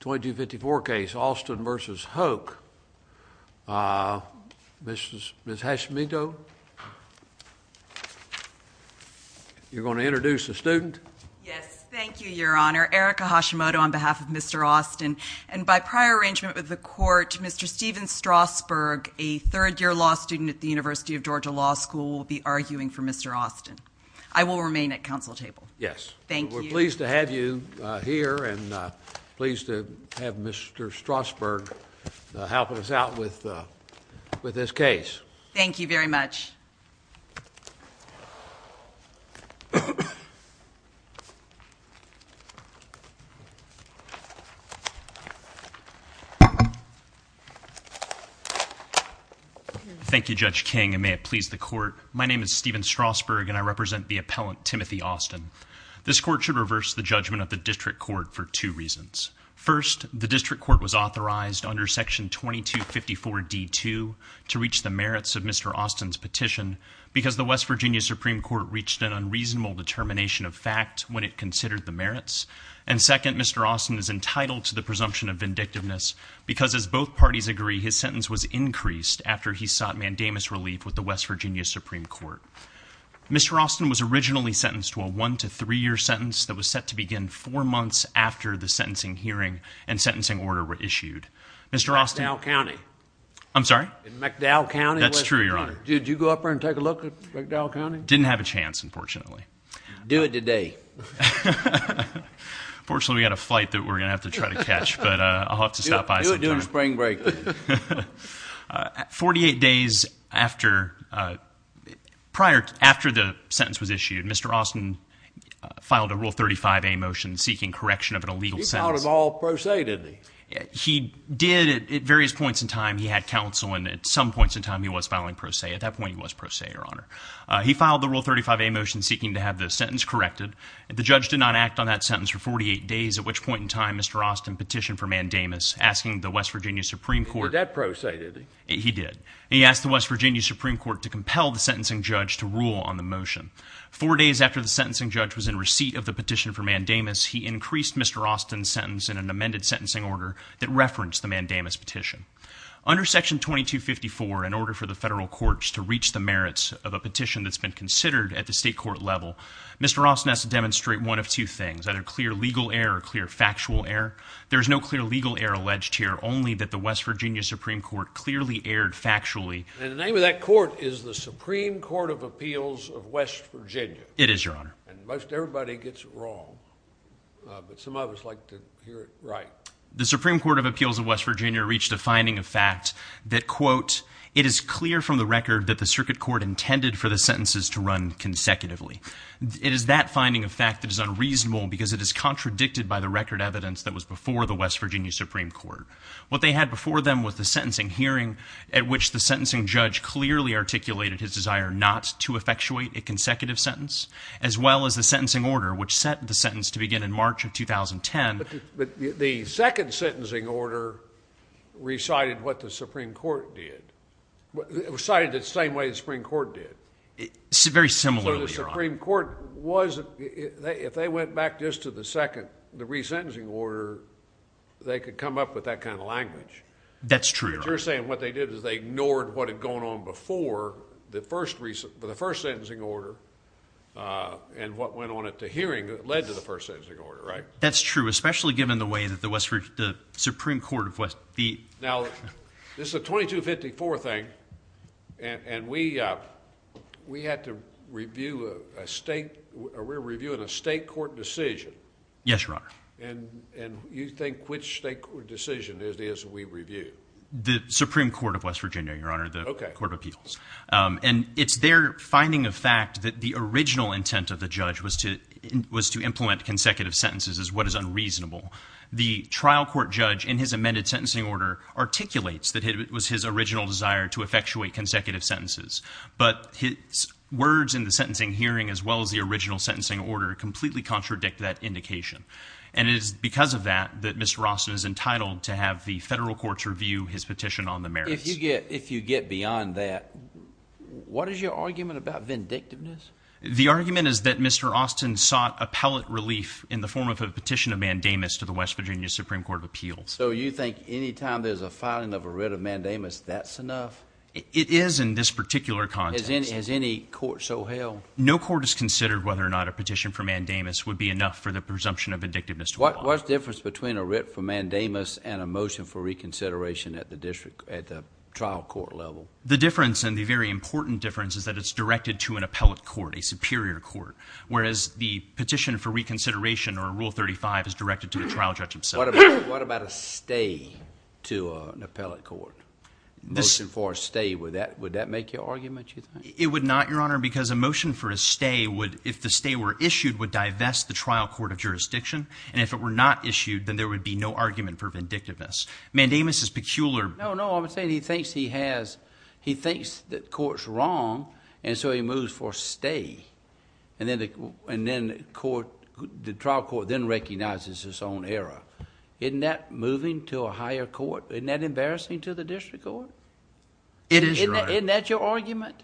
2254 case, Austin v. Hoke. Ms. Hashimoto, you're going to introduce the student? Yes. Thank you, Your Honor. Erica Hashimoto on behalf of Mr. Austin. And by prior arrangement with the court, Mr. Steven Strasburg, a third-year law student at the University of Georgia Law School, will be arguing for Mr. Austin. I will remain at council table. Yes. We're pleased to have you here and pleased to have Mr. Strasburg helping us out with this case. Thank you very much. Thank you, Judge King, and may it please the court. My name is Steven Strasburg, and I represent the appellant, Timothy Austin. This court should reverse the judgment of the district court for two reasons. First, the district court was authorized under Section 2254d-2 to reach the merits of Mr. Austin's petition because the West Virginia Supreme Court reached an unreasonable determination of fact when it considered the merits. And second, Mr. Austin is entitled to the presumption of vindictiveness because, as both parties agree, his sentence was increased after he sought mandamus relief with the West Virginia Supreme Court. Mr. Austin was originally sentenced to a one- to three-year sentence that was set to begin four months after the sentencing hearing and sentencing order were issued. Mr. Austin- In McDowell County. I'm sorry? In McDowell County, West Virginia. That's true, Your Honor. Did you go up there and take a look at McDowell County? Didn't have a chance, unfortunately. Do it today. Unfortunately, we've got a flight that we're going to have to try to catch, but I'll have to stop by sometime. We'll be doing spring break. Forty-eight days after the sentence was issued, Mr. Austin filed a Rule 35a motion seeking correction of an illegal sentence. He filed it all pro se, didn't he? He did. At various points in time, he had counsel, and at some points in time, he was filing pro se. At that point, he was pro se, Your Honor. He filed the Rule 35a motion seeking to have the sentence corrected. The judge did not act on that sentence for 48 days, at which point in time, Mr. Austin petitioned for mandamus, asking the West Virginia Supreme Court. He did that pro se, didn't he? He did. He asked the West Virginia Supreme Court to compel the sentencing judge to rule on the motion. Four days after the sentencing judge was in receipt of the petition for mandamus, he increased Mr. Austin's sentence in an amended sentencing order that referenced the mandamus petition. Under Section 2254, in order for the federal courts to reach the merits of a petition that's been considered at the state court level, Mr. Austin has to demonstrate one of two things, either clear legal error or clear factual error. There is no clear legal error alleged here, only that the West Virginia Supreme Court clearly erred factually. And the name of that court is the Supreme Court of Appeals of West Virginia. It is, Your Honor. And most everybody gets it wrong, but some of us like to hear it right. The Supreme Court of Appeals of West Virginia reached a finding of fact that, quote, it is clear from the record that the circuit court intended for the sentences to run consecutively. It is that finding of fact that is unreasonable because it is contradicted by the record evidence that was before the West Virginia Supreme Court. What they had before them was the sentencing hearing at which the sentencing judge clearly articulated his desire not to effectuate a consecutive sentence, as well as the sentencing order which set the sentence to begin in March of 2010. But the second sentencing order recited what the Supreme Court did, recited it the same way the Supreme Court did. Very similarly, Your Honor. The Supreme Court was – if they went back just to the second, the resentencing order, they could come up with that kind of language. That's true, Your Honor. You're saying what they did is they ignored what had gone on before the first sentencing order and what went on at the hearing that led to the first sentencing order, right? That's true, especially given the way that the Supreme Court of West – Now, this is a 2254 thing, and we had to review a state – we're reviewing a state court decision. Yes, Your Honor. And you think which state court decision it is we review? The Supreme Court of West Virginia, Your Honor, the Court of Appeals. And it's their finding of fact that the original intent of the judge was to implement consecutive sentences as what is unreasonable. The trial court judge in his amended sentencing order articulates that it was his original desire to effectuate consecutive sentences. But his words in the sentencing hearing as well as the original sentencing order completely contradict that indication. And it is because of that that Mr. Austin is entitled to have the federal courts review his petition on the merits. If you get beyond that, what is your argument about vindictiveness? The argument is that Mr. Austin sought appellate relief in the form of a petition of mandamus to the West Virginia Supreme Court of Appeals. So you think any time there's a filing of a writ of mandamus, that's enough? It is in this particular context. Has any court so held? No court has considered whether or not a petition for mandamus would be enough for the presumption of vindictiveness to apply. What's the difference between a writ for mandamus and a motion for reconsideration at the district – at the trial court level? The difference and the very important difference is that it's directed to an appellate court, a superior court. Whereas the petition for reconsideration or Rule 35 is directed to the trial judge himself. What about a stay to an appellate court? Motion for a stay, would that make your argument, you think? It would not, Your Honor, because a motion for a stay would – if the stay were issued, would divest the trial court of jurisdiction. And if it were not issued, then there would be no argument for vindictiveness. Mandamus is peculiar – No, no, I'm saying he thinks he has – he thinks the court's wrong, and so he moves for a stay. And then the court – the trial court then recognizes its own error. Isn't that moving to a higher court? Isn't that embarrassing to the district court? It is, Your Honor. Isn't that your argument?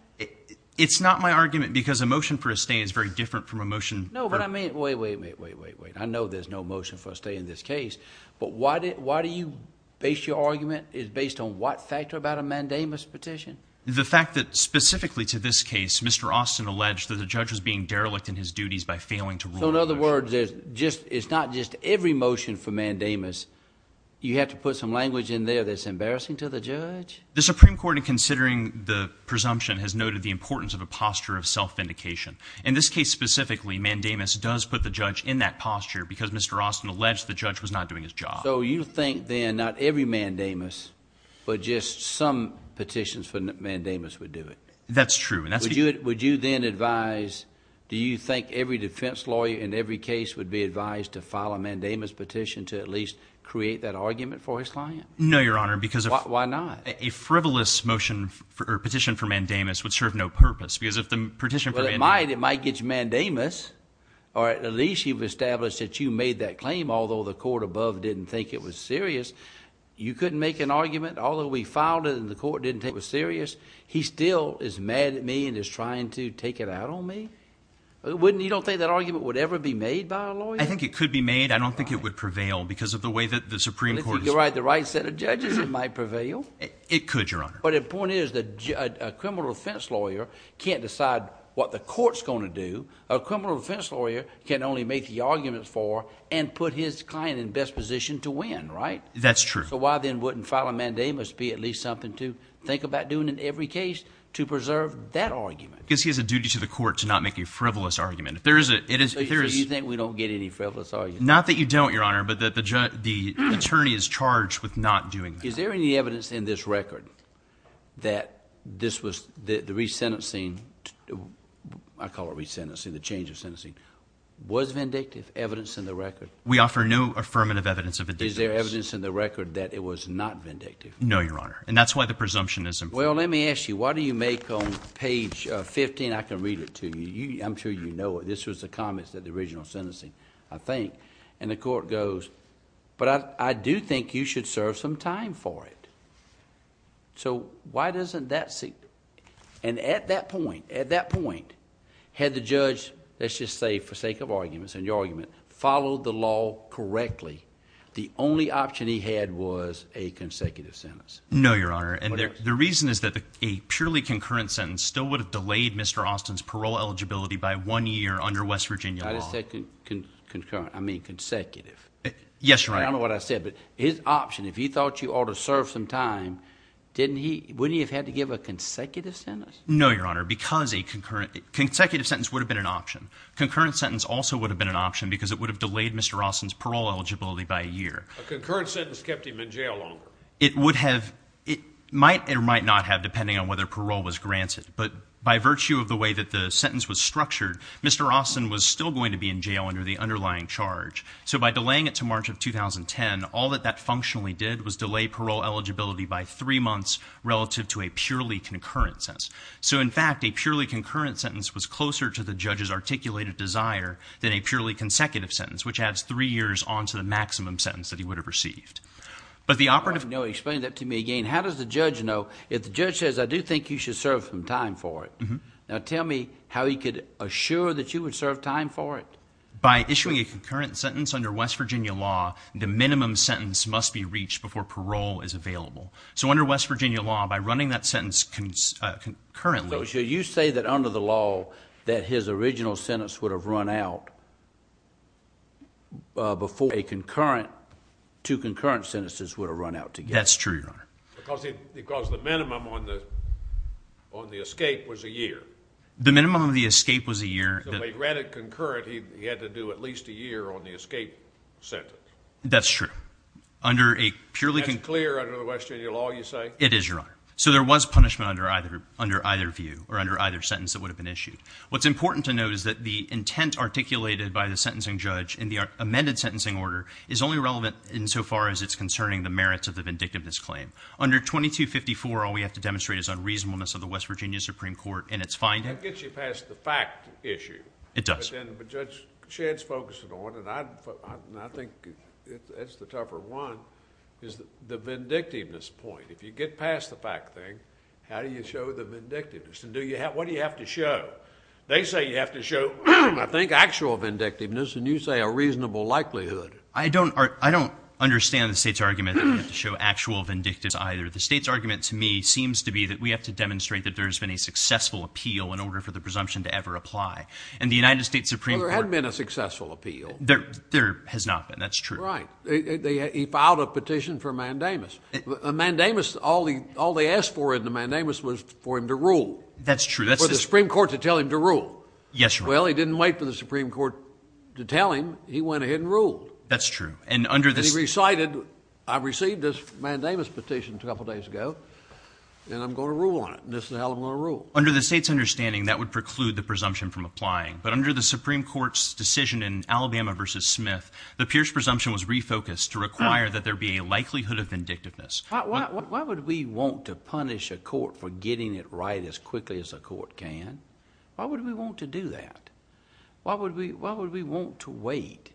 It's not my argument because a motion for a stay is very different from a motion – No, but I mean – wait, wait, wait, wait, wait, wait. I know there's no motion for a stay in this case. But why do you base your argument based on what factor about a Mandamus petition? The fact that specifically to this case, Mr. Austin alleged that the judge was being derelict in his duties by failing to rule. So in other words, it's not just every motion for Mandamus. You have to put some language in there that's embarrassing to the judge? The Supreme Court, in considering the presumption, has noted the importance of a posture of self-vindication. In this case specifically, Mandamus does put the judge in that posture because Mr. Austin alleged the judge was not doing his job. So you think then not every Mandamus but just some petitions for Mandamus would do it? That's true. Would you then advise – do you think every defense lawyer in every case would be advised to file a Mandamus petition to at least create that argument for his client? No, Your Honor, because – Why not? A frivolous motion or petition for Mandamus would serve no purpose because if the petition for – It might. It might get you Mandamus or at least you've established that you made that claim, although the court above didn't think it was serious. You couldn't make an argument? Although we filed it and the court didn't think it was serious, he still is mad at me and is trying to take it out on me? Wouldn't – you don't think that argument would ever be made by a lawyer? I think it could be made. I don't think it would prevail because of the way that the Supreme Court – But if you could write the right set of judges, it might prevail. It could, Your Honor. But the point is that a criminal defense lawyer can't decide what the court is going to do. A criminal defense lawyer can only make the argument for and put his client in best position to win, right? That's true. So why then wouldn't filing Mandamus be at least something to think about doing in every case to preserve that argument? Because he has a duty to the court to not make a frivolous argument. If there is a – So you think we don't get any frivolous arguments? Not that you don't, Your Honor, but the attorney is charged with not doing that. Is there any evidence in this record that this was – the resentencing – I call it resentencing, the change of sentencing – was vindictive? Evidence in the record? We offer no affirmative evidence of vindictiveness. Is there evidence in the record that it was not vindictive? No, Your Honor. And that's why the presumption is important. Well, let me ask you. Why do you make on page 15 – I can read it to you. I'm sure you know it. This was the comments at the original sentencing, I think. And the court goes, but I do think you should serve some time for it. So why doesn't that – and at that point, had the judge, let's just say for sake of arguments and your argument, followed the law correctly, the only option he had was a consecutive sentence. No, Your Honor. And the reason is that a purely concurrent sentence still would have delayed Mr. Austin's parole eligibility by one year under West Virginia law. I mean consecutive. Yes, Your Honor. I don't know what I said, but his option, if he thought you ought to serve some time, wouldn't he have had to give a consecutive sentence? No, Your Honor, because a consecutive sentence would have been an option. A concurrent sentence also would have been an option because it would have delayed Mr. Austin's parole eligibility by a year. A concurrent sentence kept him in jail longer. It would have – it might or might not have, depending on whether parole was granted. But by virtue of the way that the sentence was structured, Mr. Austin was still going to be in jail under the underlying charge. So by delaying it to March of 2010, all that that functionally did was delay parole eligibility by three months relative to a purely concurrent sentence. So, in fact, a purely concurrent sentence was closer to the judge's articulated desire than a purely consecutive sentence, which adds three years on to the maximum sentence that he would have received. Explain that to me again. How does the judge know? If the judge says, I do think you should serve some time for it, now tell me how he could assure that you would serve time for it. By issuing a concurrent sentence under West Virginia law, the minimum sentence must be reached before parole is available. So under West Virginia law, by running that sentence concurrently – before a concurrent – two concurrent sentences would have run out together. That's true, Your Honor. Because the minimum on the escape was a year. The minimum on the escape was a year. So he ran it concurrent, he had to do at least a year on the escape sentence. That's true. Under a purely – That's clear under the West Virginia law, you say? It is, Your Honor. So there was punishment under either view or under either sentence that would have been issued. What's important to note is that the intent articulated by the sentencing judge in the amended sentencing order is only relevant insofar as it's concerning the merits of the vindictiveness claim. Under 2254, all we have to demonstrate is unreasonableness of the West Virginia Supreme Court in its finding. That gets you past the fact issue. It does. But Judge Shedd's focusing on it, and I think that's the tougher one, is the vindictiveness point. If you get past the fact thing, how do you show the vindictiveness? What do you have to show? They say you have to show, I think, actual vindictiveness, and you say a reasonable likelihood. I don't understand the state's argument that you have to show actual vindictiveness either. The state's argument to me seems to be that we have to demonstrate that there has been a successful appeal in order for the presumption to ever apply. And the United States Supreme Court – There hasn't been a successful appeal. There has not been. That's true. Right. He filed a petition for mandamus. A mandamus, all they asked for in the mandamus was for him to rule. That's true. For the Supreme Court to tell him to rule. Yes, Your Honor. Well, he didn't wait for the Supreme Court to tell him. He went ahead and ruled. That's true. And he recited, I received this mandamus petition a couple days ago, and I'm going to rule on it. This is how I'm going to rule. Under the state's understanding, that would preclude the presumption from applying. But under the Supreme Court's decision in Alabama v. Smith, the Pierce presumption was refocused to require that there be a likelihood of vindictiveness. Why would we want to punish a court for getting it right as quickly as a court can? Why would we want to do that? Why would we want to wait?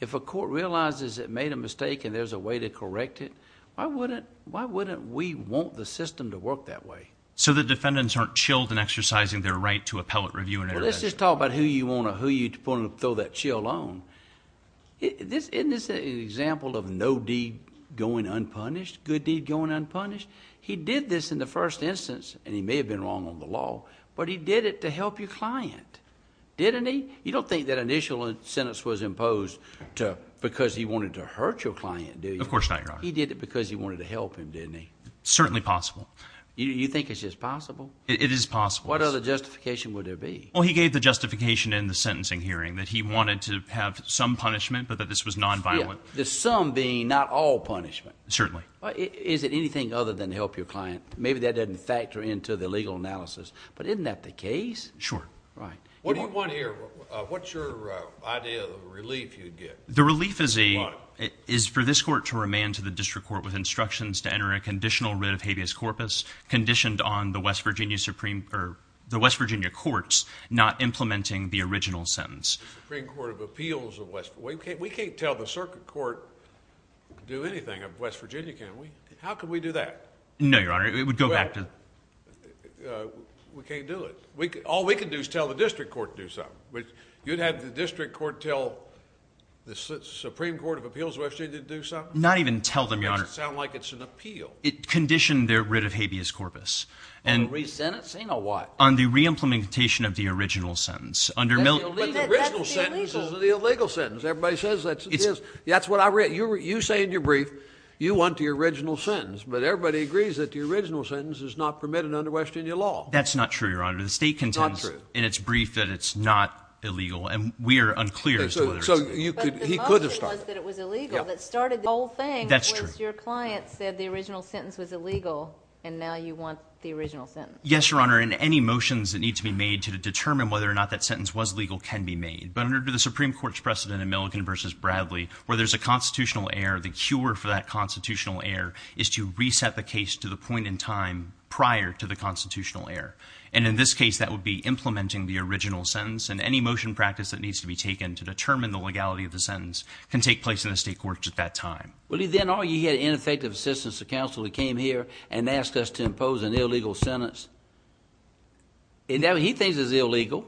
If a court realizes it made a mistake and there's a way to correct it, why wouldn't we want the system to work that way? So the defendants aren't chilled in exercising their right to appellate, review, and arrest. Let's just talk about who you want to throw that chill on. Isn't this an example of no deed going unpunished, good deed going unpunished? He did this in the first instance, and he may have been wrong on the law, but he did it to help your client, didn't he? You don't think that initial sentence was imposed because he wanted to hurt your client, do you? Of course not, Your Honor. He did it because he wanted to help him, didn't he? Certainly possible. You think it's just possible? It is possible. What other justification would there be? Well, he gave the justification in the sentencing hearing, that he wanted to have some punishment but that this was nonviolent. The some being not all punishment? Certainly. Is it anything other than to help your client? Maybe that doesn't factor into the legal analysis, but isn't that the case? Sure. Right. What do you want here? What's your idea of the relief you'd get? The relief is for this court to remand to the district court with instructions to enter a conditional writ of habeas corpus conditioned on the West Virginia courts not implementing the original sentence. The Supreme Court of Appeals of West Virginia. We can't tell the circuit court to do anything of West Virginia, can we? How could we do that? No, Your Honor. It would go back to the... We can't do it. All we can do is tell the district court to do something. You'd have the district court tell the Supreme Court of Appeals of West Virginia to do something? Not even tell them, Your Honor. It doesn't sound like it's an appeal. It conditioned their writ of habeas corpus. A re-sentence ain't a what? On the reimplementation of the original sentence. But the original sentence is the illegal sentence. Everybody says that's what I read. You say in your brief you want the original sentence, but everybody agrees that the original sentence is not permitted under West Virginia law. That's not true, Your Honor. The state contends in its brief that it's not illegal, and we are unclear as to whether it's... So he could have started it. That's true. Yes, Your Honor, and any motions that need to be made to determine whether or not that sentence was legal can be made. But under the Supreme Court's precedent in Milligan v. Bradley, where there's a constitutional error, the cure for that constitutional error is to reset the case to the point in time prior to the constitutional error. And in this case, that would be implementing the original sentence, and any motion practice that needs to be taken to determine the legality of the sentence can take place in the state courts at that time. Well, he then argued he had ineffective assistance of counsel who came here and asked us to impose an illegal sentence. And now he thinks it's illegal.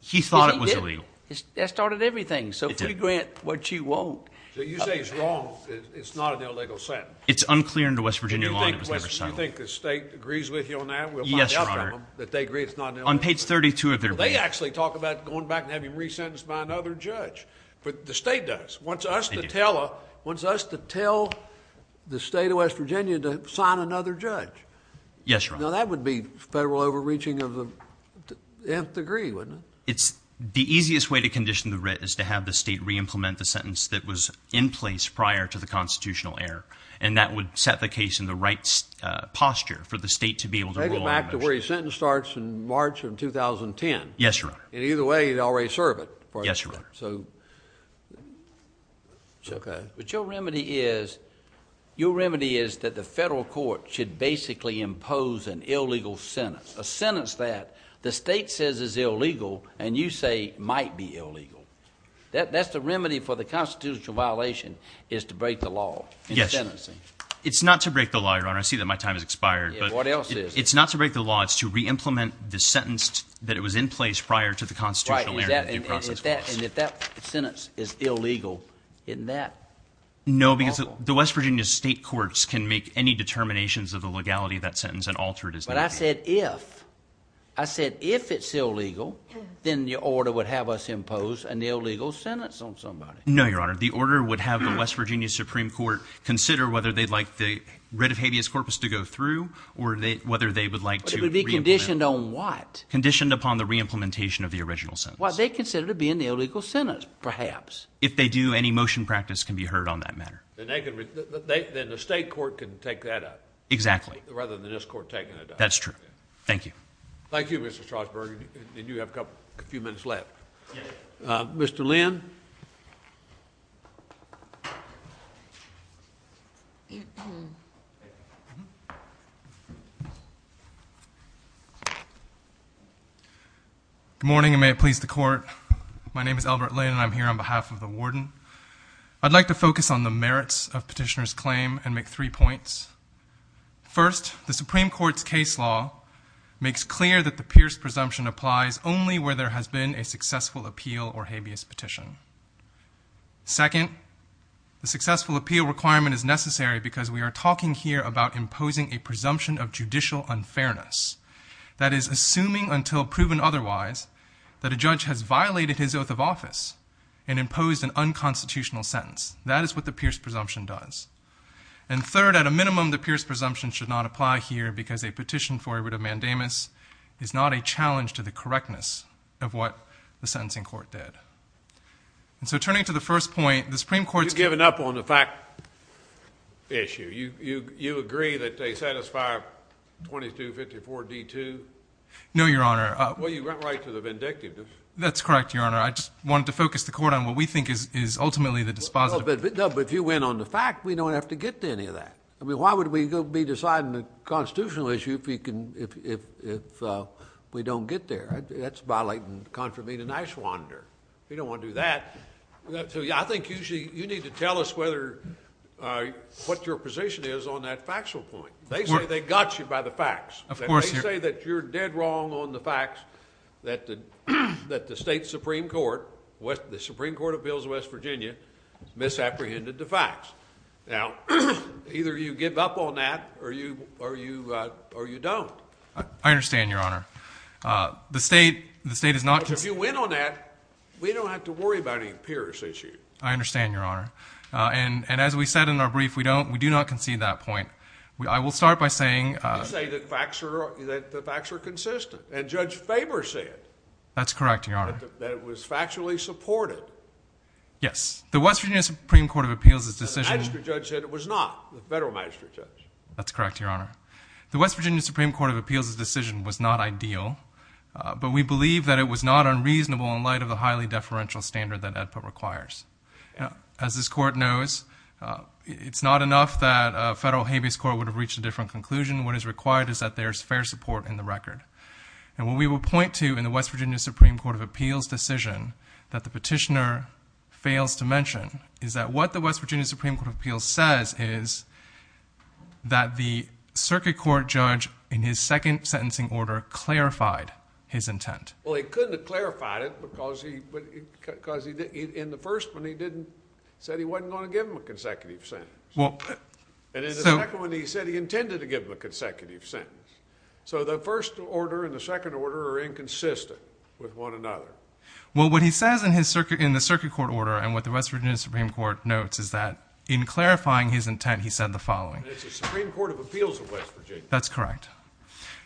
He thought it was illegal. Yes, he did. That started everything. It did. So if we grant what you want... So you say it's wrong, it's not an illegal sentence. It's unclear under West Virginia law, and it was never settled. Do you think the state agrees with you on that? Yes, Your Honor. On page 32 of their brief... Well, they actually talk about going back and having him re-sentenced by another judge. But the state does. They do. Wants us to tell the state of West Virginia to sign another judge. Yes, Your Honor. Now, that would be federal overreaching of the nth degree, wouldn't it? The easiest way to condition the writ is to have the state re-implement the sentence that was in place prior to the constitutional error, and that would set the case in the right posture for the state to be able to... Yes, Your Honor. In either way, you'd already serve it. Yes, Your Honor. So... Okay. But your remedy is that the federal court should basically impose an illegal sentence, a sentence that the state says is illegal and you say might be illegal. That's the remedy for the constitutional violation is to break the law in sentencing. Yes. It's not to break the law, Your Honor. I see that my time has expired. What else is it? It's not to break the law. It's to re-implement the sentence that was in place prior to the constitutional error. Right. And if that sentence is illegal, isn't that awful? No, because the West Virginia state courts can make any determinations of the legality of that sentence and alter it as needed. But I said if. I said if it's illegal, then the order would have us impose an illegal sentence on somebody. No, Your Honor. The order would have the West Virginia Supreme Court consider whether they'd like the writ of habeas corpus to go through or whether they would like to re-implement it. It would be conditioned on what? Conditioned upon the re-implementation of the original sentence. What they consider to be an illegal sentence, perhaps. If they do, any motion practice can be heard on that matter. Then the state court can take that up. Exactly. Rather than this court taking it up. That's true. Thank you. Thank you, Mr. Strasburg. And you have a few minutes left. Mr. Lynn. Good morning and may it please the court. My name is Albert Lynn and I'm here on behalf of the warden. I'd like to focus on the merits of Petitioner's claim and make three points. First, the Supreme Court's case law makes clear that the Pierce presumption applies only where there has been a successful appeal or habeas petition. Second, the successful appeal requirement is necessary because we are talking here about imposing a presumption of judicial unfairness. That is, assuming until proven otherwise that a judge has violated his oath of office and imposed an unconstitutional sentence. That is what the Pierce presumption does. And third, at a minimum, the Pierce presumption should not apply here because a petition for a writ of mandamus is not a challenge to the correctness of what the sentencing court did. And so turning to the first point, the Supreme Court's. You've given up on the fact issue. You agree that they satisfy 2254D2? No, Your Honor. Well, you went right to the vindictive. That's correct, Your Honor. I just wanted to focus the court on what we think is ultimately the dispositive. No, but if you went on the fact, we don't have to get to any of that. I mean, why would we be deciding the constitutional issue if we don't get there? That's violating contravene and ashwander. We don't want to do that. So, yeah, I think you need to tell us what your position is on that factual point. They say they got you by the facts. Of course, Your Honor. I think that you're dead wrong on the fact that the state Supreme Court, the Supreme Court of Pills, West Virginia, misapprehended the facts. Now, either you give up on that or you don't. I understand, Your Honor. But if you went on that, we don't have to worry about any PIRS issue. I understand, Your Honor. And as we said in our brief, we do not concede that point. I will start by saying— You say that the facts are consistent. And Judge Faber said— That's correct, Your Honor. —that it was factually supported. Yes. The West Virginia Supreme Court of Appeals' decision— The magistrate judge said it was not. The federal magistrate judge. That's correct, Your Honor. The West Virginia Supreme Court of Appeals' decision was not ideal, but we believe that it was not unreasonable in light of the highly deferential standard that EDPA requires. As this court knows, it's not enough that a federal habeas court would have reached a different conclusion. What is required is that there's fair support in the record. And what we will point to in the West Virginia Supreme Court of Appeals' decision that the petitioner fails to mention is that what the West Virginia Supreme Court of Appeals says is that the circuit court judge, in his second sentencing order, clarified his intent. Well, he couldn't have clarified it because he—in the first one, he didn't—he said he wasn't going to give him a consecutive sentence. And in the second one, he said he intended to give him a consecutive sentence. So the first order and the second order are inconsistent with one another. Well, what he says in the circuit court order and what the West Virginia Supreme Court notes is that in clarifying his intent, he said the following. It's the Supreme Court of Appeals of West Virginia. That's correct.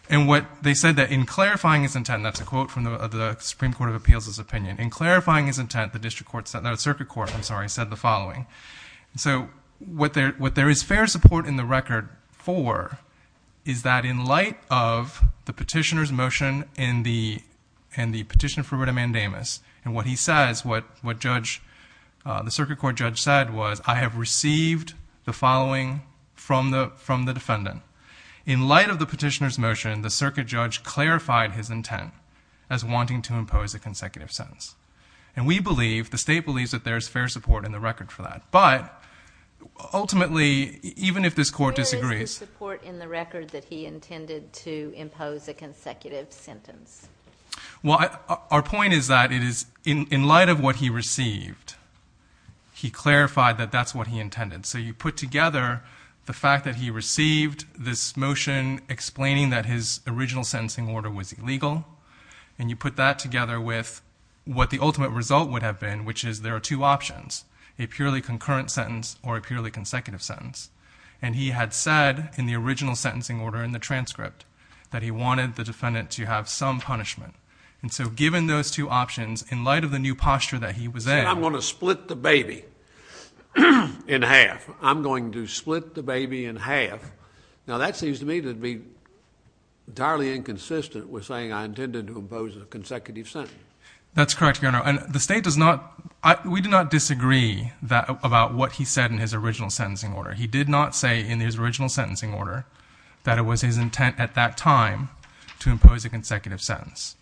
And what they said that in clarifying his intent—that's a quote from the Supreme Court of Appeals' opinion—in clarifying his intent, the circuit court said the following. So what there is fair support in the record for is that in light of the petitioner's motion and the petition for writ of mandamus, and what he says, what the circuit court judge said was, I have received the following from the defendant. In light of the petitioner's motion, the circuit judge clarified his intent as wanting to impose a consecutive sentence. And we believe, the state believes, that there is fair support in the record for that. But ultimately, even if this court disagrees— Where is the support in the record that he intended to impose a consecutive sentence? Well, our point is that in light of what he received, he clarified that that's what he intended. So you put together the fact that he received this motion explaining that his original sentencing order was illegal, and you put that together with what the ultimate result would have been, which is there are two options, a purely concurrent sentence or a purely consecutive sentence. And he had said in the original sentencing order in the transcript that he wanted the defendant to have some punishment. And so given those two options, in light of the new posture that he was in— He said, I'm going to split the baby in half. I'm going to split the baby in half. Now, that seems to me to be entirely inconsistent with saying I intended to impose a consecutive sentence. That's correct, Your Honor. And the state does not—we do not disagree about what he said in his original sentencing order. He did not say in his original sentencing order that it was his intent at that time to impose a consecutive sentence.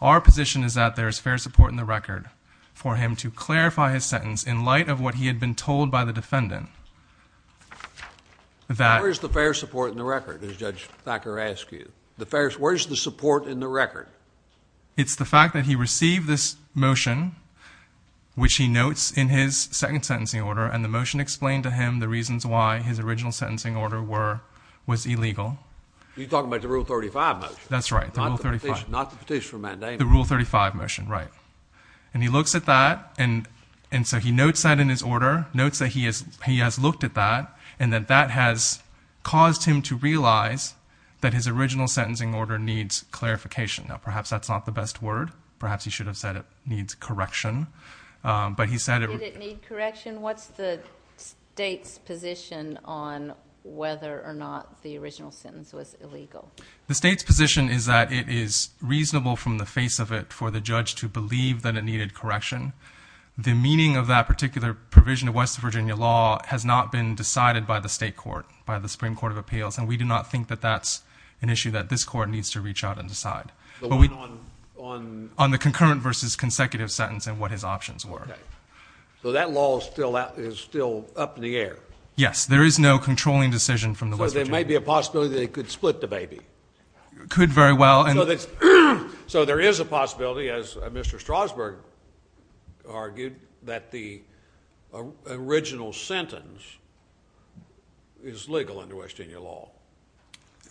Our position is that there is fair support in the record for him to clarify his sentence in light of what he had been told by the defendant that— Where is the fair support in the record, as Judge Thacker asked you? It's the fact that he received this motion, which he notes in his second sentencing order, and the motion explained to him the reasons why his original sentencing order was illegal. You're talking about the Rule 35 motion? That's right, the Rule 35. Not the petition for mandating it. The Rule 35 motion, right. And he looks at that, and so he notes that in his order, notes that he has looked at that, and that that has caused him to realize that his original sentencing order needs clarification. Now, perhaps that's not the best word. Perhaps he should have said it needs correction, but he said— Did it need correction? What's the state's position on whether or not the original sentence was illegal? The state's position is that it is reasonable from the face of it for the judge to believe that it needed correction. The meaning of that particular provision of West Virginia law has not been decided by the state court, by the Supreme Court of Appeals, and we do not think that that's an issue that this court needs to reach out and decide. The one on— On the concurrent versus consecutive sentence and what his options were. Okay. So that law is still up in the air? Yes. There is no controlling decision from the West Virginia— So there may be a possibility that it could split the baby? Could very well. So there is a possibility, as Mr. Strasburg argued, that the original sentence is legal under West Virginia law?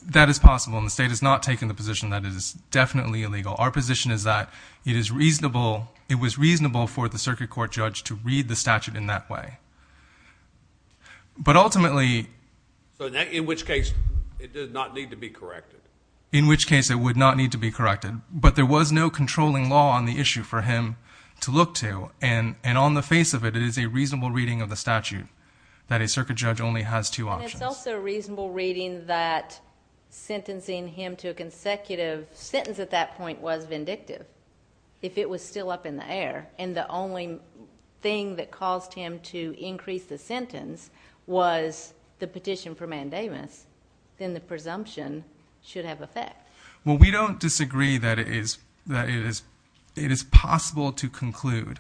That is possible, and the state has not taken the position that it is definitely illegal. Our position is that it is reasonable—it was reasonable for the circuit court judge to read the statute in that way. But ultimately— In which case it did not need to be corrected? In which case it would not need to be corrected, but there was no controlling law on the issue for him to look to, and on the face of it, it is a reasonable reading of the statute that a circuit judge only has two options. And it's also a reasonable reading that sentencing him to a consecutive sentence at that point was vindictive, if it was still up in the air, and the only thing that caused him to increase the sentence was the petition for mandamus. Then the presumption should have effect. Well, we don't disagree that it is possible to conclude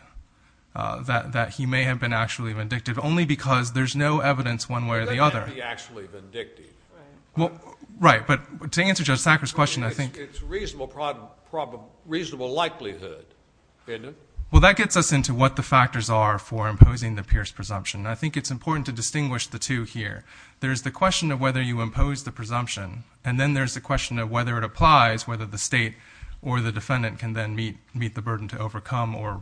that he may have been actually vindictive, only because there's no evidence one way or the other. He may not be actually vindictive. Right, but to answer Judge Sackler's question, I think— It's a reasonable likelihood, isn't it? Well, that gets us into what the factors are for imposing the Pierce presumption. I think it's important to distinguish the two here. There's the question of whether you impose the presumption, and then there's the question of whether it applies, whether the state or the defendant can then meet the burden to overcome or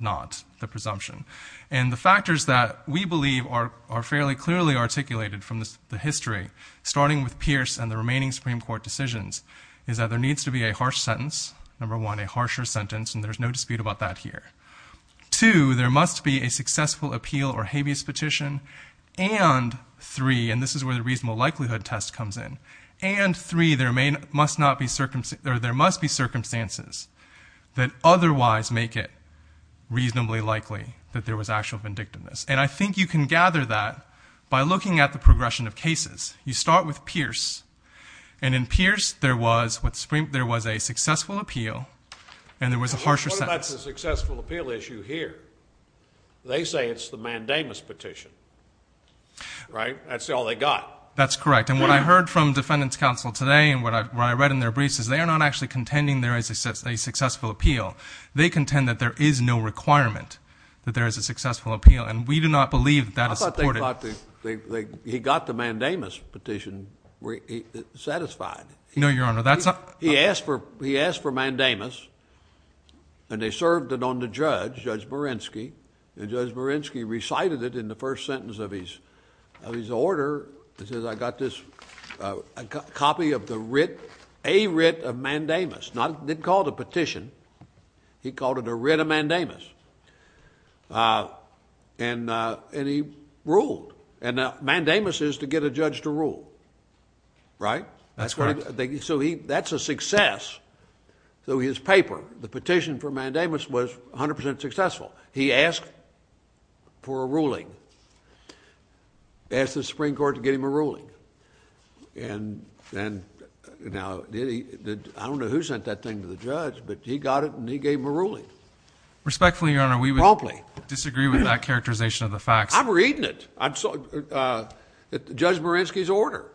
not the presumption. And the factors that we believe are fairly clearly articulated from the history, starting with Pierce and the remaining Supreme Court decisions, is that there needs to be a harsh sentence, number one, a harsher sentence, and there's no dispute about that here. Two, there must be a successful appeal or habeas petition, and three, and this is where the reasonable likelihood test comes in, and three, there must be circumstances that otherwise make it reasonably likely that there was actual vindictiveness. And I think you can gather that by looking at the progression of cases. You start with Pierce, and in Pierce, there was a successful appeal, and there was a harsher sentence. What about the successful appeal issue here? They say it's the mandamus petition, right? That's all they got. That's correct. And what I heard from defendants' counsel today and what I read in their briefs is they are not actually contending there is a successful appeal. They contend that there is no requirement that there is a successful appeal, and we do not believe that is supported. I thought they thought they got the mandamus petition satisfied. No, Your Honor. He asked for mandamus, and they served it on the judge, Judge Marinsky, and Judge Marinsky recited it in the first sentence of his order. He says, I got this copy of the writ, a writ of mandamus. They didn't call it a petition. He called it a writ of mandamus, and he ruled, and mandamus is to get a judge to rule, right? That's correct. So that's a success. So his paper, the petition for mandamus was 100% successful. He asked for a ruling, asked the Supreme Court to get him a ruling, and now I don't know who sent that thing to the judge, but he got it and he gave him a ruling. Respectfully, Your Honor, we would disagree with that characterization of the facts. I'm reading it. It's Judge Marinsky's order.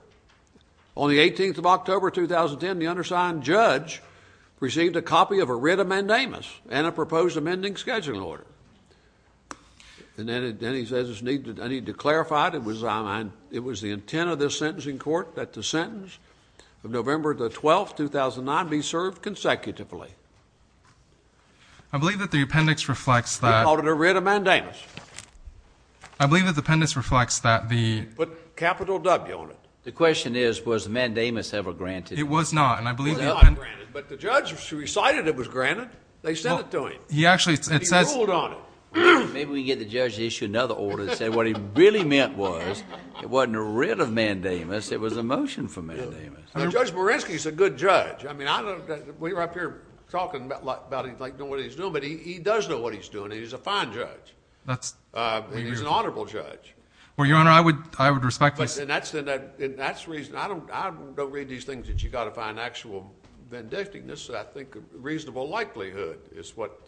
On the 18th of October, 2010, the undersigned judge received a copy of a writ of mandamus and a proposed amending scheduling order. And then he says, I need to clarify it. It was the intent of this sentencing court that the sentence of November 12, 2009, be served consecutively. I believe that the appendix reflects that. He called it a writ of mandamus. I believe that the appendix reflects that the. He put capital W on it. The question is, was mandamus ever granted? It was not, and I believe. It was not granted, but the judge, she recited it was granted. They sent it to him. He actually, it says. And he ruled on it. Maybe we can get the judge to issue another order that said what he really meant was it wasn't a writ of mandamus, it was a motion for mandamus. Now, Judge Marinsky's a good judge. I mean, I don't know, we were up here talking about he's like doing what he's doing, but he does know what he's doing, and he's a fine judge. He's an honorable judge. Well, Your Honor, I would respect this. And that's the reason. I don't read these things that you've got to find actual vindictiveness. I think reasonable likelihood is what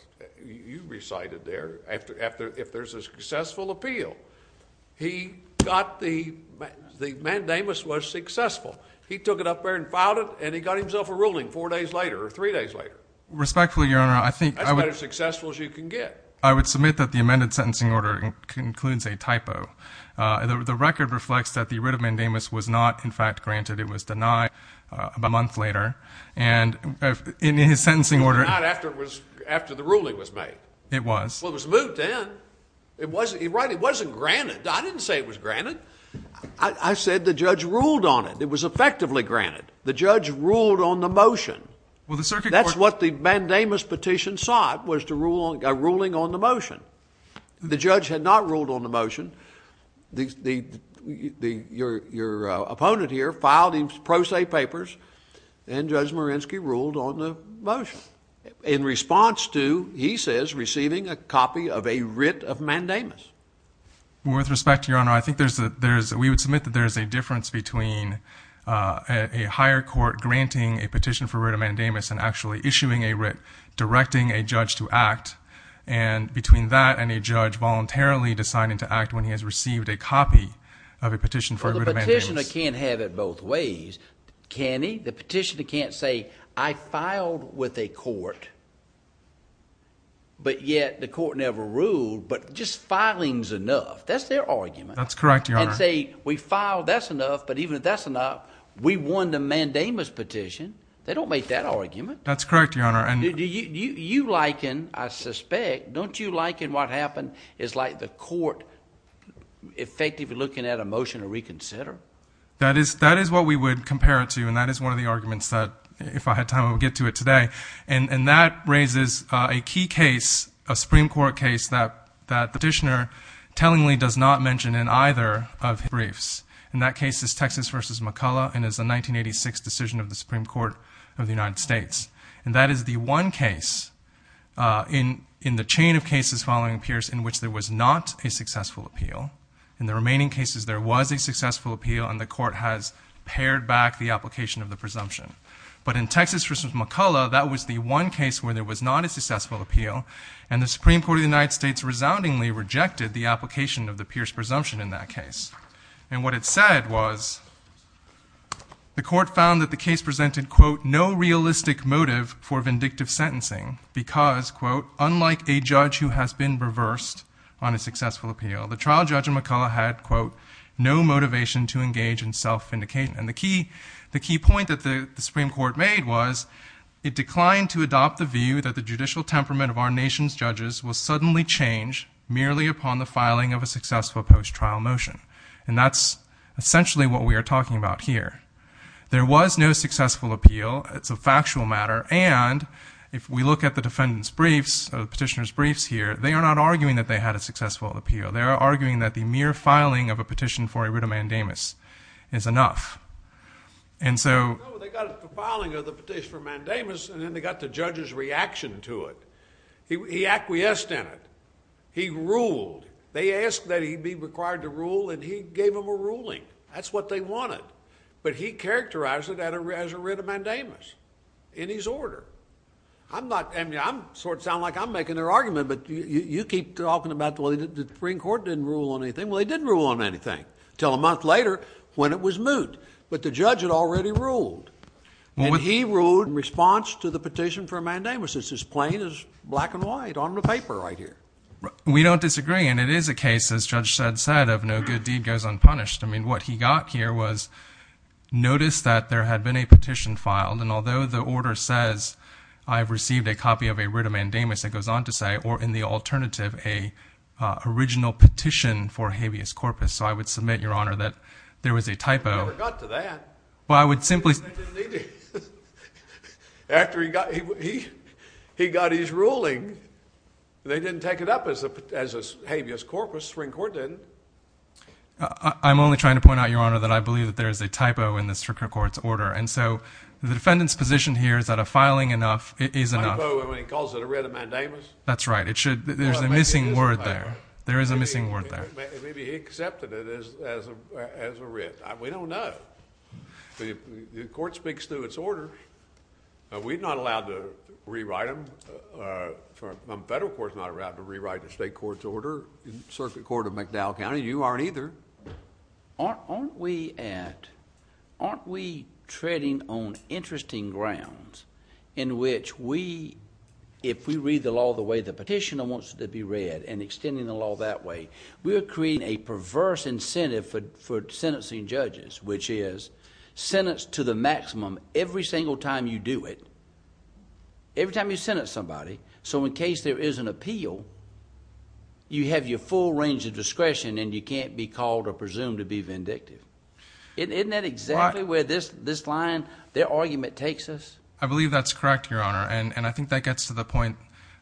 you recited there if there's a successful appeal. He got the, the mandamus was successful. He took it up there and filed it, and he got himself a ruling four days later or three days later. Respectfully, Your Honor, I think I would. That's about as successful as you can get. I would submit that the amended sentencing order concludes a typo. The record reflects that the writ of mandamus was not, in fact, granted. It was denied a month later. And in his sentencing order. It was denied after the ruling was made. It was. Well, it was moved in. It wasn't granted. I didn't say it was granted. I said the judge ruled on it. It was effectively granted. The judge ruled on the motion. Well, the circuit court. That's what the mandamus petition sought was a ruling on the motion. The judge had not ruled on the motion. Your opponent here filed his pro se papers, and Judge Marinsky ruled on the motion. In response to, he says, receiving a copy of a writ of mandamus. Well, with respect to Your Honor, I think there's, we would submit that there's a difference between a higher court granting a petition for writ of mandamus and actually issuing a writ directing a judge to act. And between that and a judge voluntarily deciding to act when he has received a copy of a petition for a writ of mandamus. Well, the petitioner can't have it both ways, can he? The petitioner can't say, I filed with a court, but yet the court never ruled. But just filing's enough. That's their argument. That's correct, Your Honor. And say, we filed, that's enough. But even if that's enough, we won the mandamus petition. They don't make that argument. That's correct, Your Honor. You liken, I suspect, don't you liken what happened is like the court effectively looking at a motion to reconsider? That is what we would compare it to, and that is one of the arguments that, if I had time, I would get to it today. And that raises a key case, a Supreme Court case, that the petitioner tellingly does not mention in either of his briefs. And that case is Texas v. McCullough, and it's a 1986 decision of the Supreme Court of the United States. And that is the one case in the chain of cases following Pierce in which there was not a successful appeal. In the remaining cases, there was a successful appeal, and the court has pared back the application of the presumption. But in Texas v. McCullough, that was the one case where there was not a successful appeal, and the Supreme Court of the United States resoundingly rejected the application of the Pierce presumption in that case. And what it said was the court found that the case presented, quote, no realistic motive for vindictive sentencing because, quote, unlike a judge who has been reversed on a successful appeal, the trial judge in McCullough had, quote, no motivation to engage in self-vindication. And the key point that the Supreme Court made was it declined to adopt the view that the judicial temperament of our nation's judges will suddenly change merely upon the filing of a successful post-trial motion. And that's essentially what we are talking about here. There was no successful appeal. It's a factual matter. And if we look at the defendant's briefs, the petitioner's briefs here, they are not arguing that they had a successful appeal. They are arguing that the mere filing of a petition for a writ of mandamus is enough. And so they got the filing of the petition for mandamus, and then they got the judge's reaction to it. He acquiesced in it. He ruled. They asked that he be required to rule, and he gave them a ruling. That's what they wanted. But he characterized it as a writ of mandamus in his order. I'm not going to sound like I'm making their argument, but you keep talking about the Supreme Court didn't rule on anything. Well, they didn't rule on anything until a month later when it was moot. But the judge had already ruled. And he ruled in response to the petition for a mandamus. It's as plain as black and white on the paper right here. We don't disagree, and it is a case, as Judge Shedd said, of no good deed goes unpunished. I mean, what he got here was notice that there had been a petition filed, and although the order says I have received a copy of a writ of mandamus, it goes on to say, or in the alternative, a original petition for habeas corpus. So I would submit, Your Honor, that there was a typo. I never got to that. After he got his ruling, they didn't take it up as a habeas corpus. The Supreme Court didn't. I'm only trying to point out, Your Honor, that I believe that there is a typo in the Supreme Court's order. And so the defendant's position here is that a filing is enough. A typo when he calls it a writ of mandamus? That's right. There is a missing word there. Maybe he accepted it as a writ. We don't know. The court speaks to its order. We're not allowed to rewrite them. The federal court's not allowed to rewrite the state court's order. The Circuit Court of McDowell County, you aren't either. Aren't we at, aren't we treading on interesting grounds in which we, if we read the law the way the petitioner wants it to be read and extending the law that way, we are creating a perverse incentive for sentencing judges, which is sentence to the maximum every single time you do it, every time you sentence somebody. So in case there is an appeal, you have your full range of discretion and you can't be called or presumed to be vindictive. Isn't that exactly where this line, their argument takes us? I believe that's correct, Your Honor, and I think that gets to the point.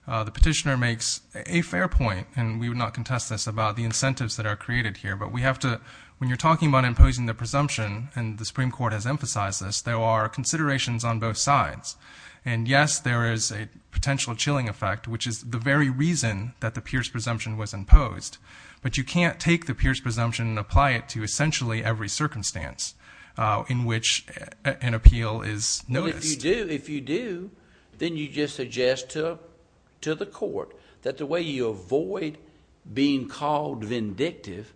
The petitioner makes a fair point, and we would not contest this, about the incentives that are created here, but we have to, when you're talking about imposing the presumption, and the Supreme Court has emphasized this, there are considerations on both sides, and, yes, there is a potential chilling effect, which is the very reason that the Pierce presumption was imposed, but you can't take the Pierce presumption and apply it to essentially every circumstance in which an appeal is noticed. If you do, then you just suggest to the court that the way you avoid being called vindictive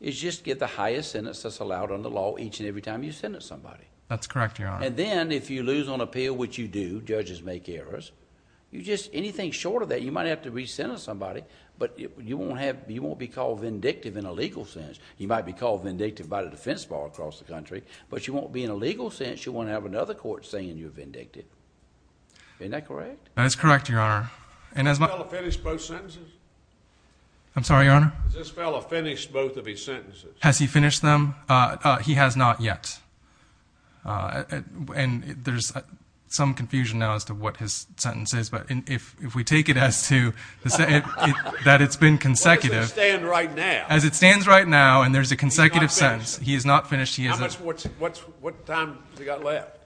is just get the highest sentence that's allowed under law each and every time you sentence somebody. That's correct, Your Honor. Then, if you lose on appeal, which you do, judges make errors, anything short of that, you might have to re-sentence somebody, but you won't be called vindictive in a legal sense. You might be called vindictive by the defense bar across the country, but you won't be in a legal sense. You won't have another court saying you're vindictive. Isn't that correct? That is correct, Your Honor. Has this fellow finished both sentences? I'm sorry, Your Honor? Has this fellow finished both of his sentences? Has he finished them? He has not yet, and there's some confusion now as to what his sentence is, but if we take it as to that it's been consecutive. Where does it stand right now? As it stands right now, and there's a consecutive sentence, he has not finished. What time has he got left?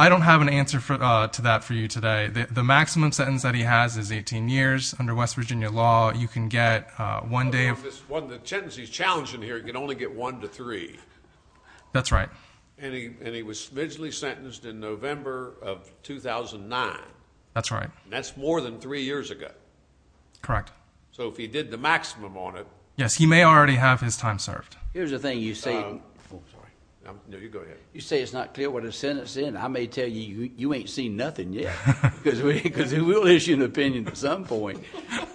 I don't have an answer to that for you today. The maximum sentence that he has is 18 years. Under West Virginia law, you can get one day. The sentence he's challenging here, he can only get one to three. That's right. And he was smidgely sentenced in November of 2009. That's right. That's more than three years ago. Correct. So if he did the maximum on it. Yes, he may already have his time served. Here's the thing. You say it's not clear what his sentence is. I may tell you you ain't seen nothing yet because we'll issue an opinion at some point.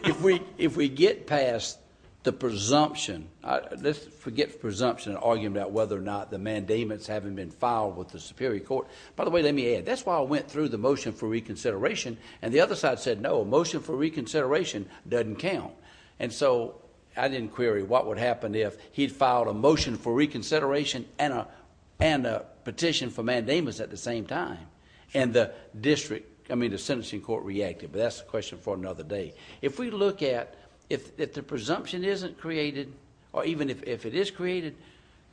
If we get past the presumption, let's forget presumption and argue about whether or not the mandatements haven't been filed with the Superior Court. By the way, let me add, that's why I went through the motion for reconsideration, and the other side said, no, motion for reconsideration doesn't count. And so, I didn't query what would happen if he filed a motion for reconsideration and a petition for mandamus at the same time. And the district, I mean the sentencing court reacted. But that's a question for another day. If we look at, if the presumption isn't created, or even if it is created,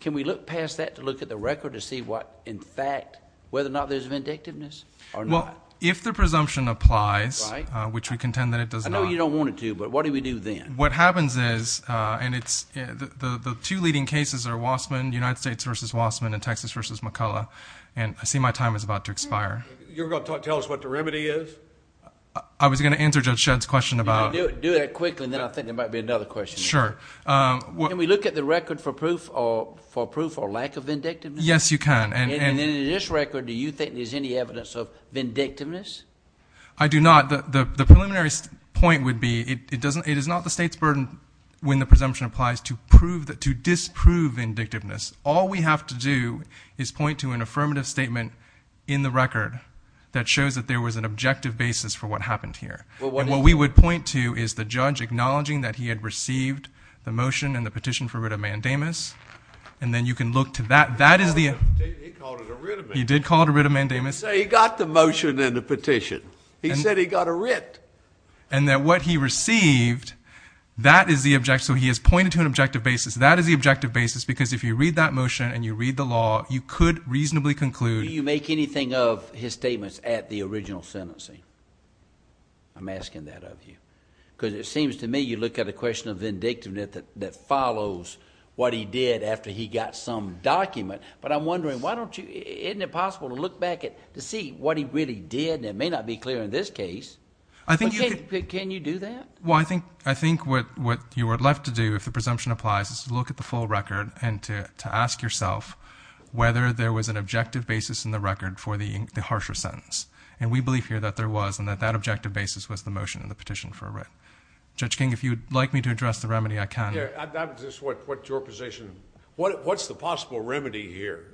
can we look past that to look at the record to see what, in fact, whether or not there's vindictiveness or not? Well, if the presumption applies, which we contend that it does not. I know you don't want it to, but what do we do then? What happens is, and the two leading cases are Wassman, United States v. Wassman, and Texas v. McCullough. And I see my time is about to expire. You're going to tell us what the remedy is? I was going to answer Judge Shedd's question about... Do that quickly, and then I think there might be another question. Sure. Can we look at the record for proof or lack of vindictiveness? Yes, you can. And in this record, do you think there's any evidence of vindictiveness? I do not. The preliminary point would be it is not the State's burden when the presumption applies to disprove vindictiveness. All we have to do is point to an affirmative statement in the record that shows that there was an objective basis for what happened here. And what we would point to is the judge acknowledging that he had received the motion and the petition for writ of mandamus, and then you can look to that. He called it a writ of mandamus. He did call it a writ of mandamus. He got the motion and the petition. He said he got a writ. And that what he received, that is the objective. So he has pointed to an objective basis. That is the objective basis because if you read that motion and you read the law, you could reasonably conclude... Do you make anything of his statements at the original sentencing? I'm asking that of you. Because it seems to me you look at a question of vindictiveness that follows what he did after he got some document, but I'm wondering, why don't you... isn't it possible to look back to see what he really did? And it may not be clear in this case. I think you... Can you do that? Well, I think what you are left to do, if the presumption applies, is to look at the full record and to ask yourself whether there was an objective basis in the record for the harsher sentence. And we believe here that there was and that that objective basis was the motion and the petition for a writ. Judge King, if you would like me to address the remedy, I can. Yeah, that's just what your position... What's the possible remedy here?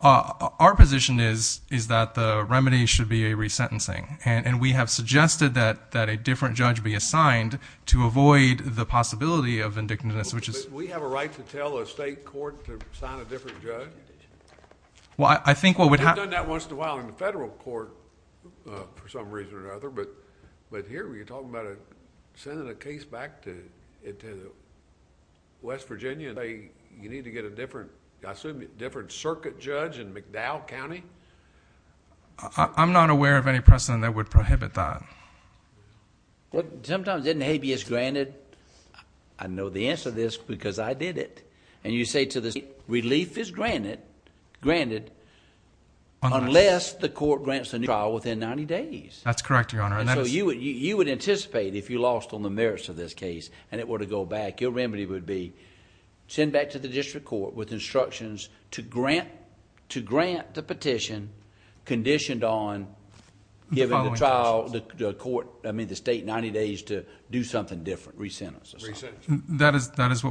Our position is that the remedy should be a resentencing. And we have suggested that a different judge be assigned to avoid the possibility of vindictiveness, which is... We have a right to tell a state court to assign a different judge? Well, I think what would happen... We've done that once in a while in the federal court for some reason or another. But here, we're talking about sending a case back to West Virginia. You need to get a different, I assume, circuit judge in McDowell County? I'm not aware of any precedent that would prohibit that. Well, sometimes isn't habeas granted? I know the answer to this because I did it. And you say to the state, relief is granted unless the court grants a new trial within 90 days. That's correct, Your Honor. And so, you would anticipate if you lost on the merits of this case and it were to go back, your remedy would be send back to the district court with instructions to grant the petition conditioned on... The following...... giving the trial, the court, I mean the state, 90 days to do something different, resentence or something. Resentence. That is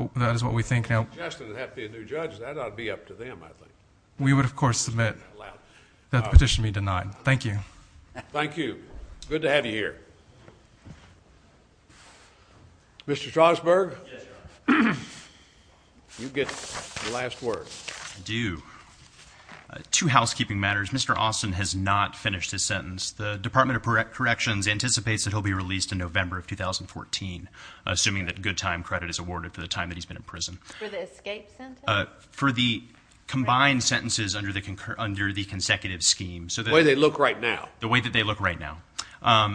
what we think now. If they suggested it would have to be a new judge, that ought to be up to them, I think. We would, of course, submit that the petition be denied. Thank you. Thank you. Good to have you here. Mr. Schwarzberg, you get the last word. I do. Two housekeeping matters. Mr. Austin has not finished his sentence. The Department of Corrections anticipates that he'll be released in November of 2014, assuming that good time credit is awarded for the time that he's been in prison. For the escape sentence? For the combined sentences under the consecutive scheme. The way they look right now. The way that they look right now.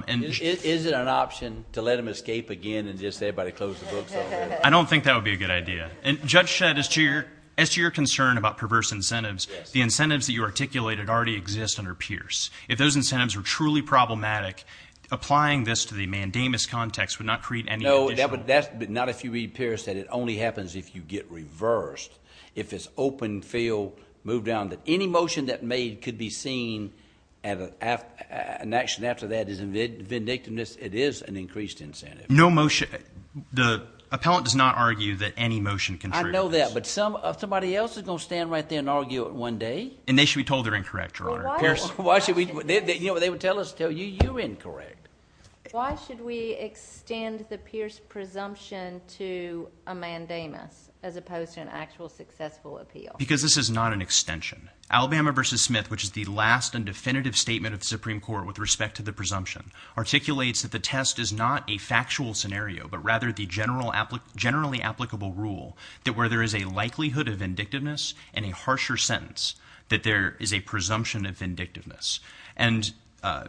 Is it an option to let him escape again and just have everybody close the books on him? I don't think that would be a good idea. Judge Shedd, as to your concern about perverse incentives, the incentives that you articulated already exist under Pierce. If those incentives were truly problematic, applying this to the mandamus context would not create any additional... No, not if you read Pierce, that it only happens if you get reversed. If it's open, feel, move down, that any motion that may be seen as an action after that is vindictiveness, it is an increased incentive. No motion... the appellant does not argue that any motion can... I know that, but somebody else is going to stand right there and argue it one day. And they should be told they're incorrect, Your Honor. Pierce... Why should we... you know, they would tell us to tell you, you're incorrect. Why should we extend the Pierce presumption to a mandamus, as opposed to an actual successful appeal? Because this is not an extension. Alabama v. Smith, which is the last and definitive statement of the Supreme Court with respect to the presumption, articulates that the test is not a factual scenario, but rather the generally applicable rule, that where there is a likelihood of vindictiveness and a harsher sentence, that there is a presumption of vindictiveness. And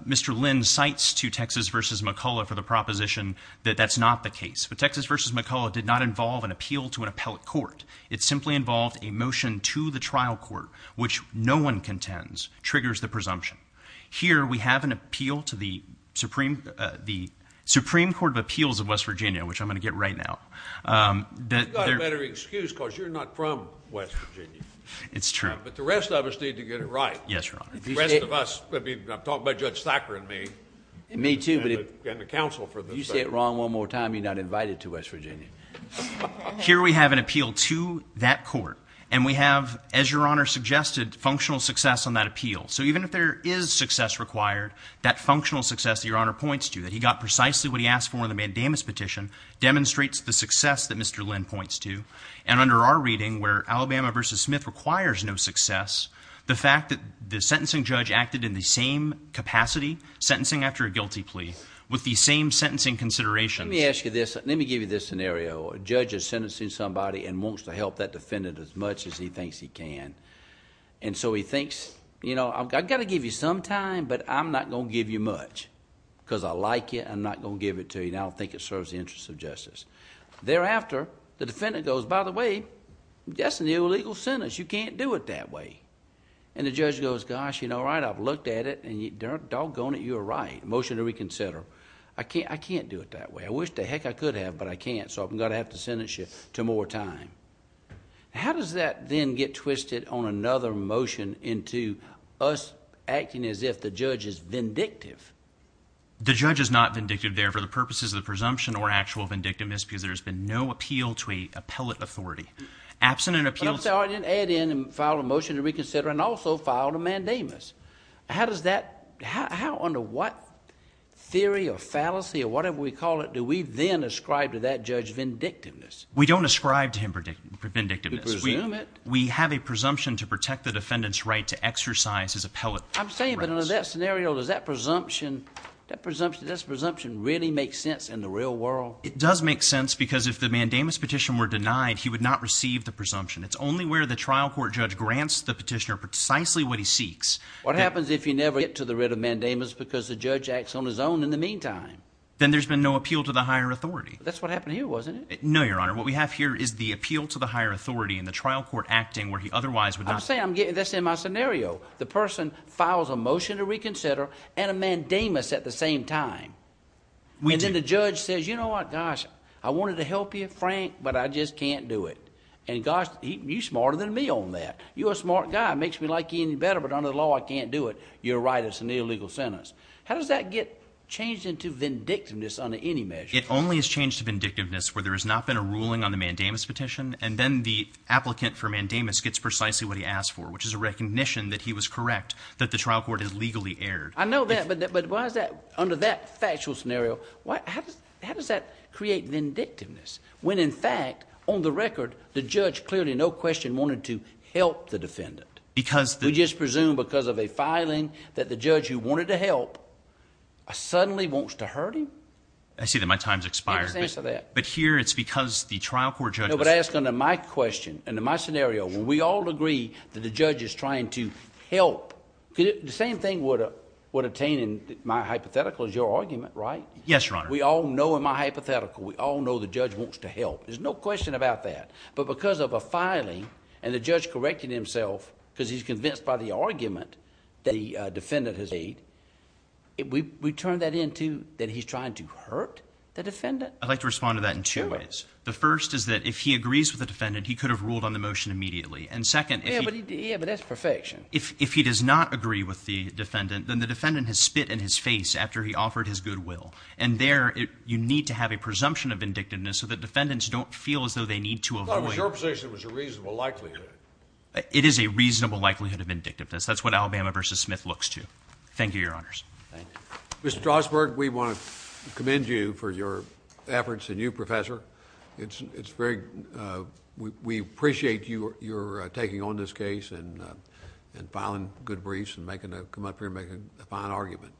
Mr. Lynn cites to Texas v. McCullough for the proposition that that's not the case. But Texas v. McCullough did not involve an appeal to an appellate court. It simply involved a motion to the trial court, which no one contends triggers the presumption. Here, we have an appeal to the Supreme Court of Appeals of West Virginia, which I'm going to get right now, that... You've got a better excuse, because you're not from West Virginia. It's true. But the rest of us need to get it right. Yes, Your Honor. The rest of us... I'm talking about Judge Thacker and me. And me, too. And the counsel for this. If you say it wrong one more time, you're not invited to West Virginia. Here, we have an appeal to that court. And we have, as Your Honor suggested, functional success on that appeal. So, even if there is success required, that functional success that Your Honor points to, that he got precisely what he asked for in the mandamus petition, demonstrates the success that Mr. Lynn points to. And under our reading, where Alabama v. Smith requires no success, the fact that the sentencing judge acted in the same capacity, sentencing after a guilty plea, with the same sentencing considerations... Let me ask you this. Let me give you this scenario. A judge is sentencing somebody and wants to help that defendant as much as he thinks he can. And so, he thinks, you know, I've got to give you some time, but I'm not going to give you much. Because I like it, I'm not going to give it to you, and I don't think it serves the interests of justice. Thereafter, the defendant goes, by the way, that's an illegal sentence. You can't do it that way. And the judge goes, gosh, you know, all right, I've looked at it, and doggone it, you're right. Motion to reconsider. I can't do it that way. I wish the heck I could have, but I can't. So, I'm going to have to sentence you to more time. How does that then get twisted on another motion into us acting as if the judge is vindictive? The judge is not vindictive there for the purposes of the presumption or actual vindictiveness, because there's been no appeal to a appellate authority. Absent an appeal to the- But I'm sorry, I didn't add in and file a motion to reconsider and also file a mandamus. How does that, how under what theory or fallacy or whatever we call it do we then ascribe to that judge vindictiveness? We don't ascribe to him vindictiveness. You presume it. We have a presumption to protect the defendant's right to exercise his appellate rights. I'm saying, but under that scenario, does that presumption really make sense in the real world? It does make sense because if the mandamus petition were denied, he would not receive the presumption. It's only where the trial court judge grants the petitioner precisely what he seeks. What happens if you never get to the writ of mandamus because the judge acts on his own in the meantime? Then there's been no appeal to the higher authority. That's what happened here, wasn't it? No, Your Honor. What we have here is the appeal to the higher authority and the trial court acting where he otherwise would not- I'm saying that's in my scenario. The person files a motion to reconsider and a mandamus at the same time. And then the judge says, you know what, gosh, I wanted to help you, Frank, but I just can't do it. And gosh, you're smarter than me on that. You're a smart guy. It makes me like you even better, but under the law I can't do it. You're right. It's an illegal sentence. How does that get changed into vindictiveness under any measure? It only has changed to vindictiveness where there has not been a ruling on the mandamus petition, and then the applicant for mandamus gets precisely what he asked for, which is a recognition that he was correct, that the trial court has legally erred. I know that, but why is that under that factual scenario? How does that create vindictiveness when, in fact, on the record, the judge clearly no question wanted to help the defendant? Because the- We just presume because of a filing that the judge who wanted to help suddenly wants to hurt him? I see that my time has expired. Give us an answer to that. But here it's because the trial court judge- I would ask under my question, under my scenario, when we all agree that the judge is trying to help, the same thing would attain in my hypothetical is your argument, right? Yes, Your Honor. We all know in my hypothetical, we all know the judge wants to help. There's no question about that. But because of a filing and the judge correcting himself because he's convinced by the argument that the defendant has made, we turn that into that he's trying to hurt the defendant? I'd like to respond to that in two ways. The first is that if he agrees with the defendant, he could have ruled on the motion immediately. And second- Yeah, but that's perfection. If he does not agree with the defendant, then the defendant has spit in his face after he offered his goodwill. And there you need to have a presumption of vindictiveness so that defendants don't feel as though they need to avoid- I thought it was your position it was a reasonable likelihood. It is a reasonable likelihood of vindictiveness. That's what Alabama v. Smith looks to. Thank you, Your Honors. Thank you. Mr. Strasburg, we want to commend you for your efforts and you, Professor. It's very- we appreciate your taking on this case and filing good briefs and coming up here and making a fine argument.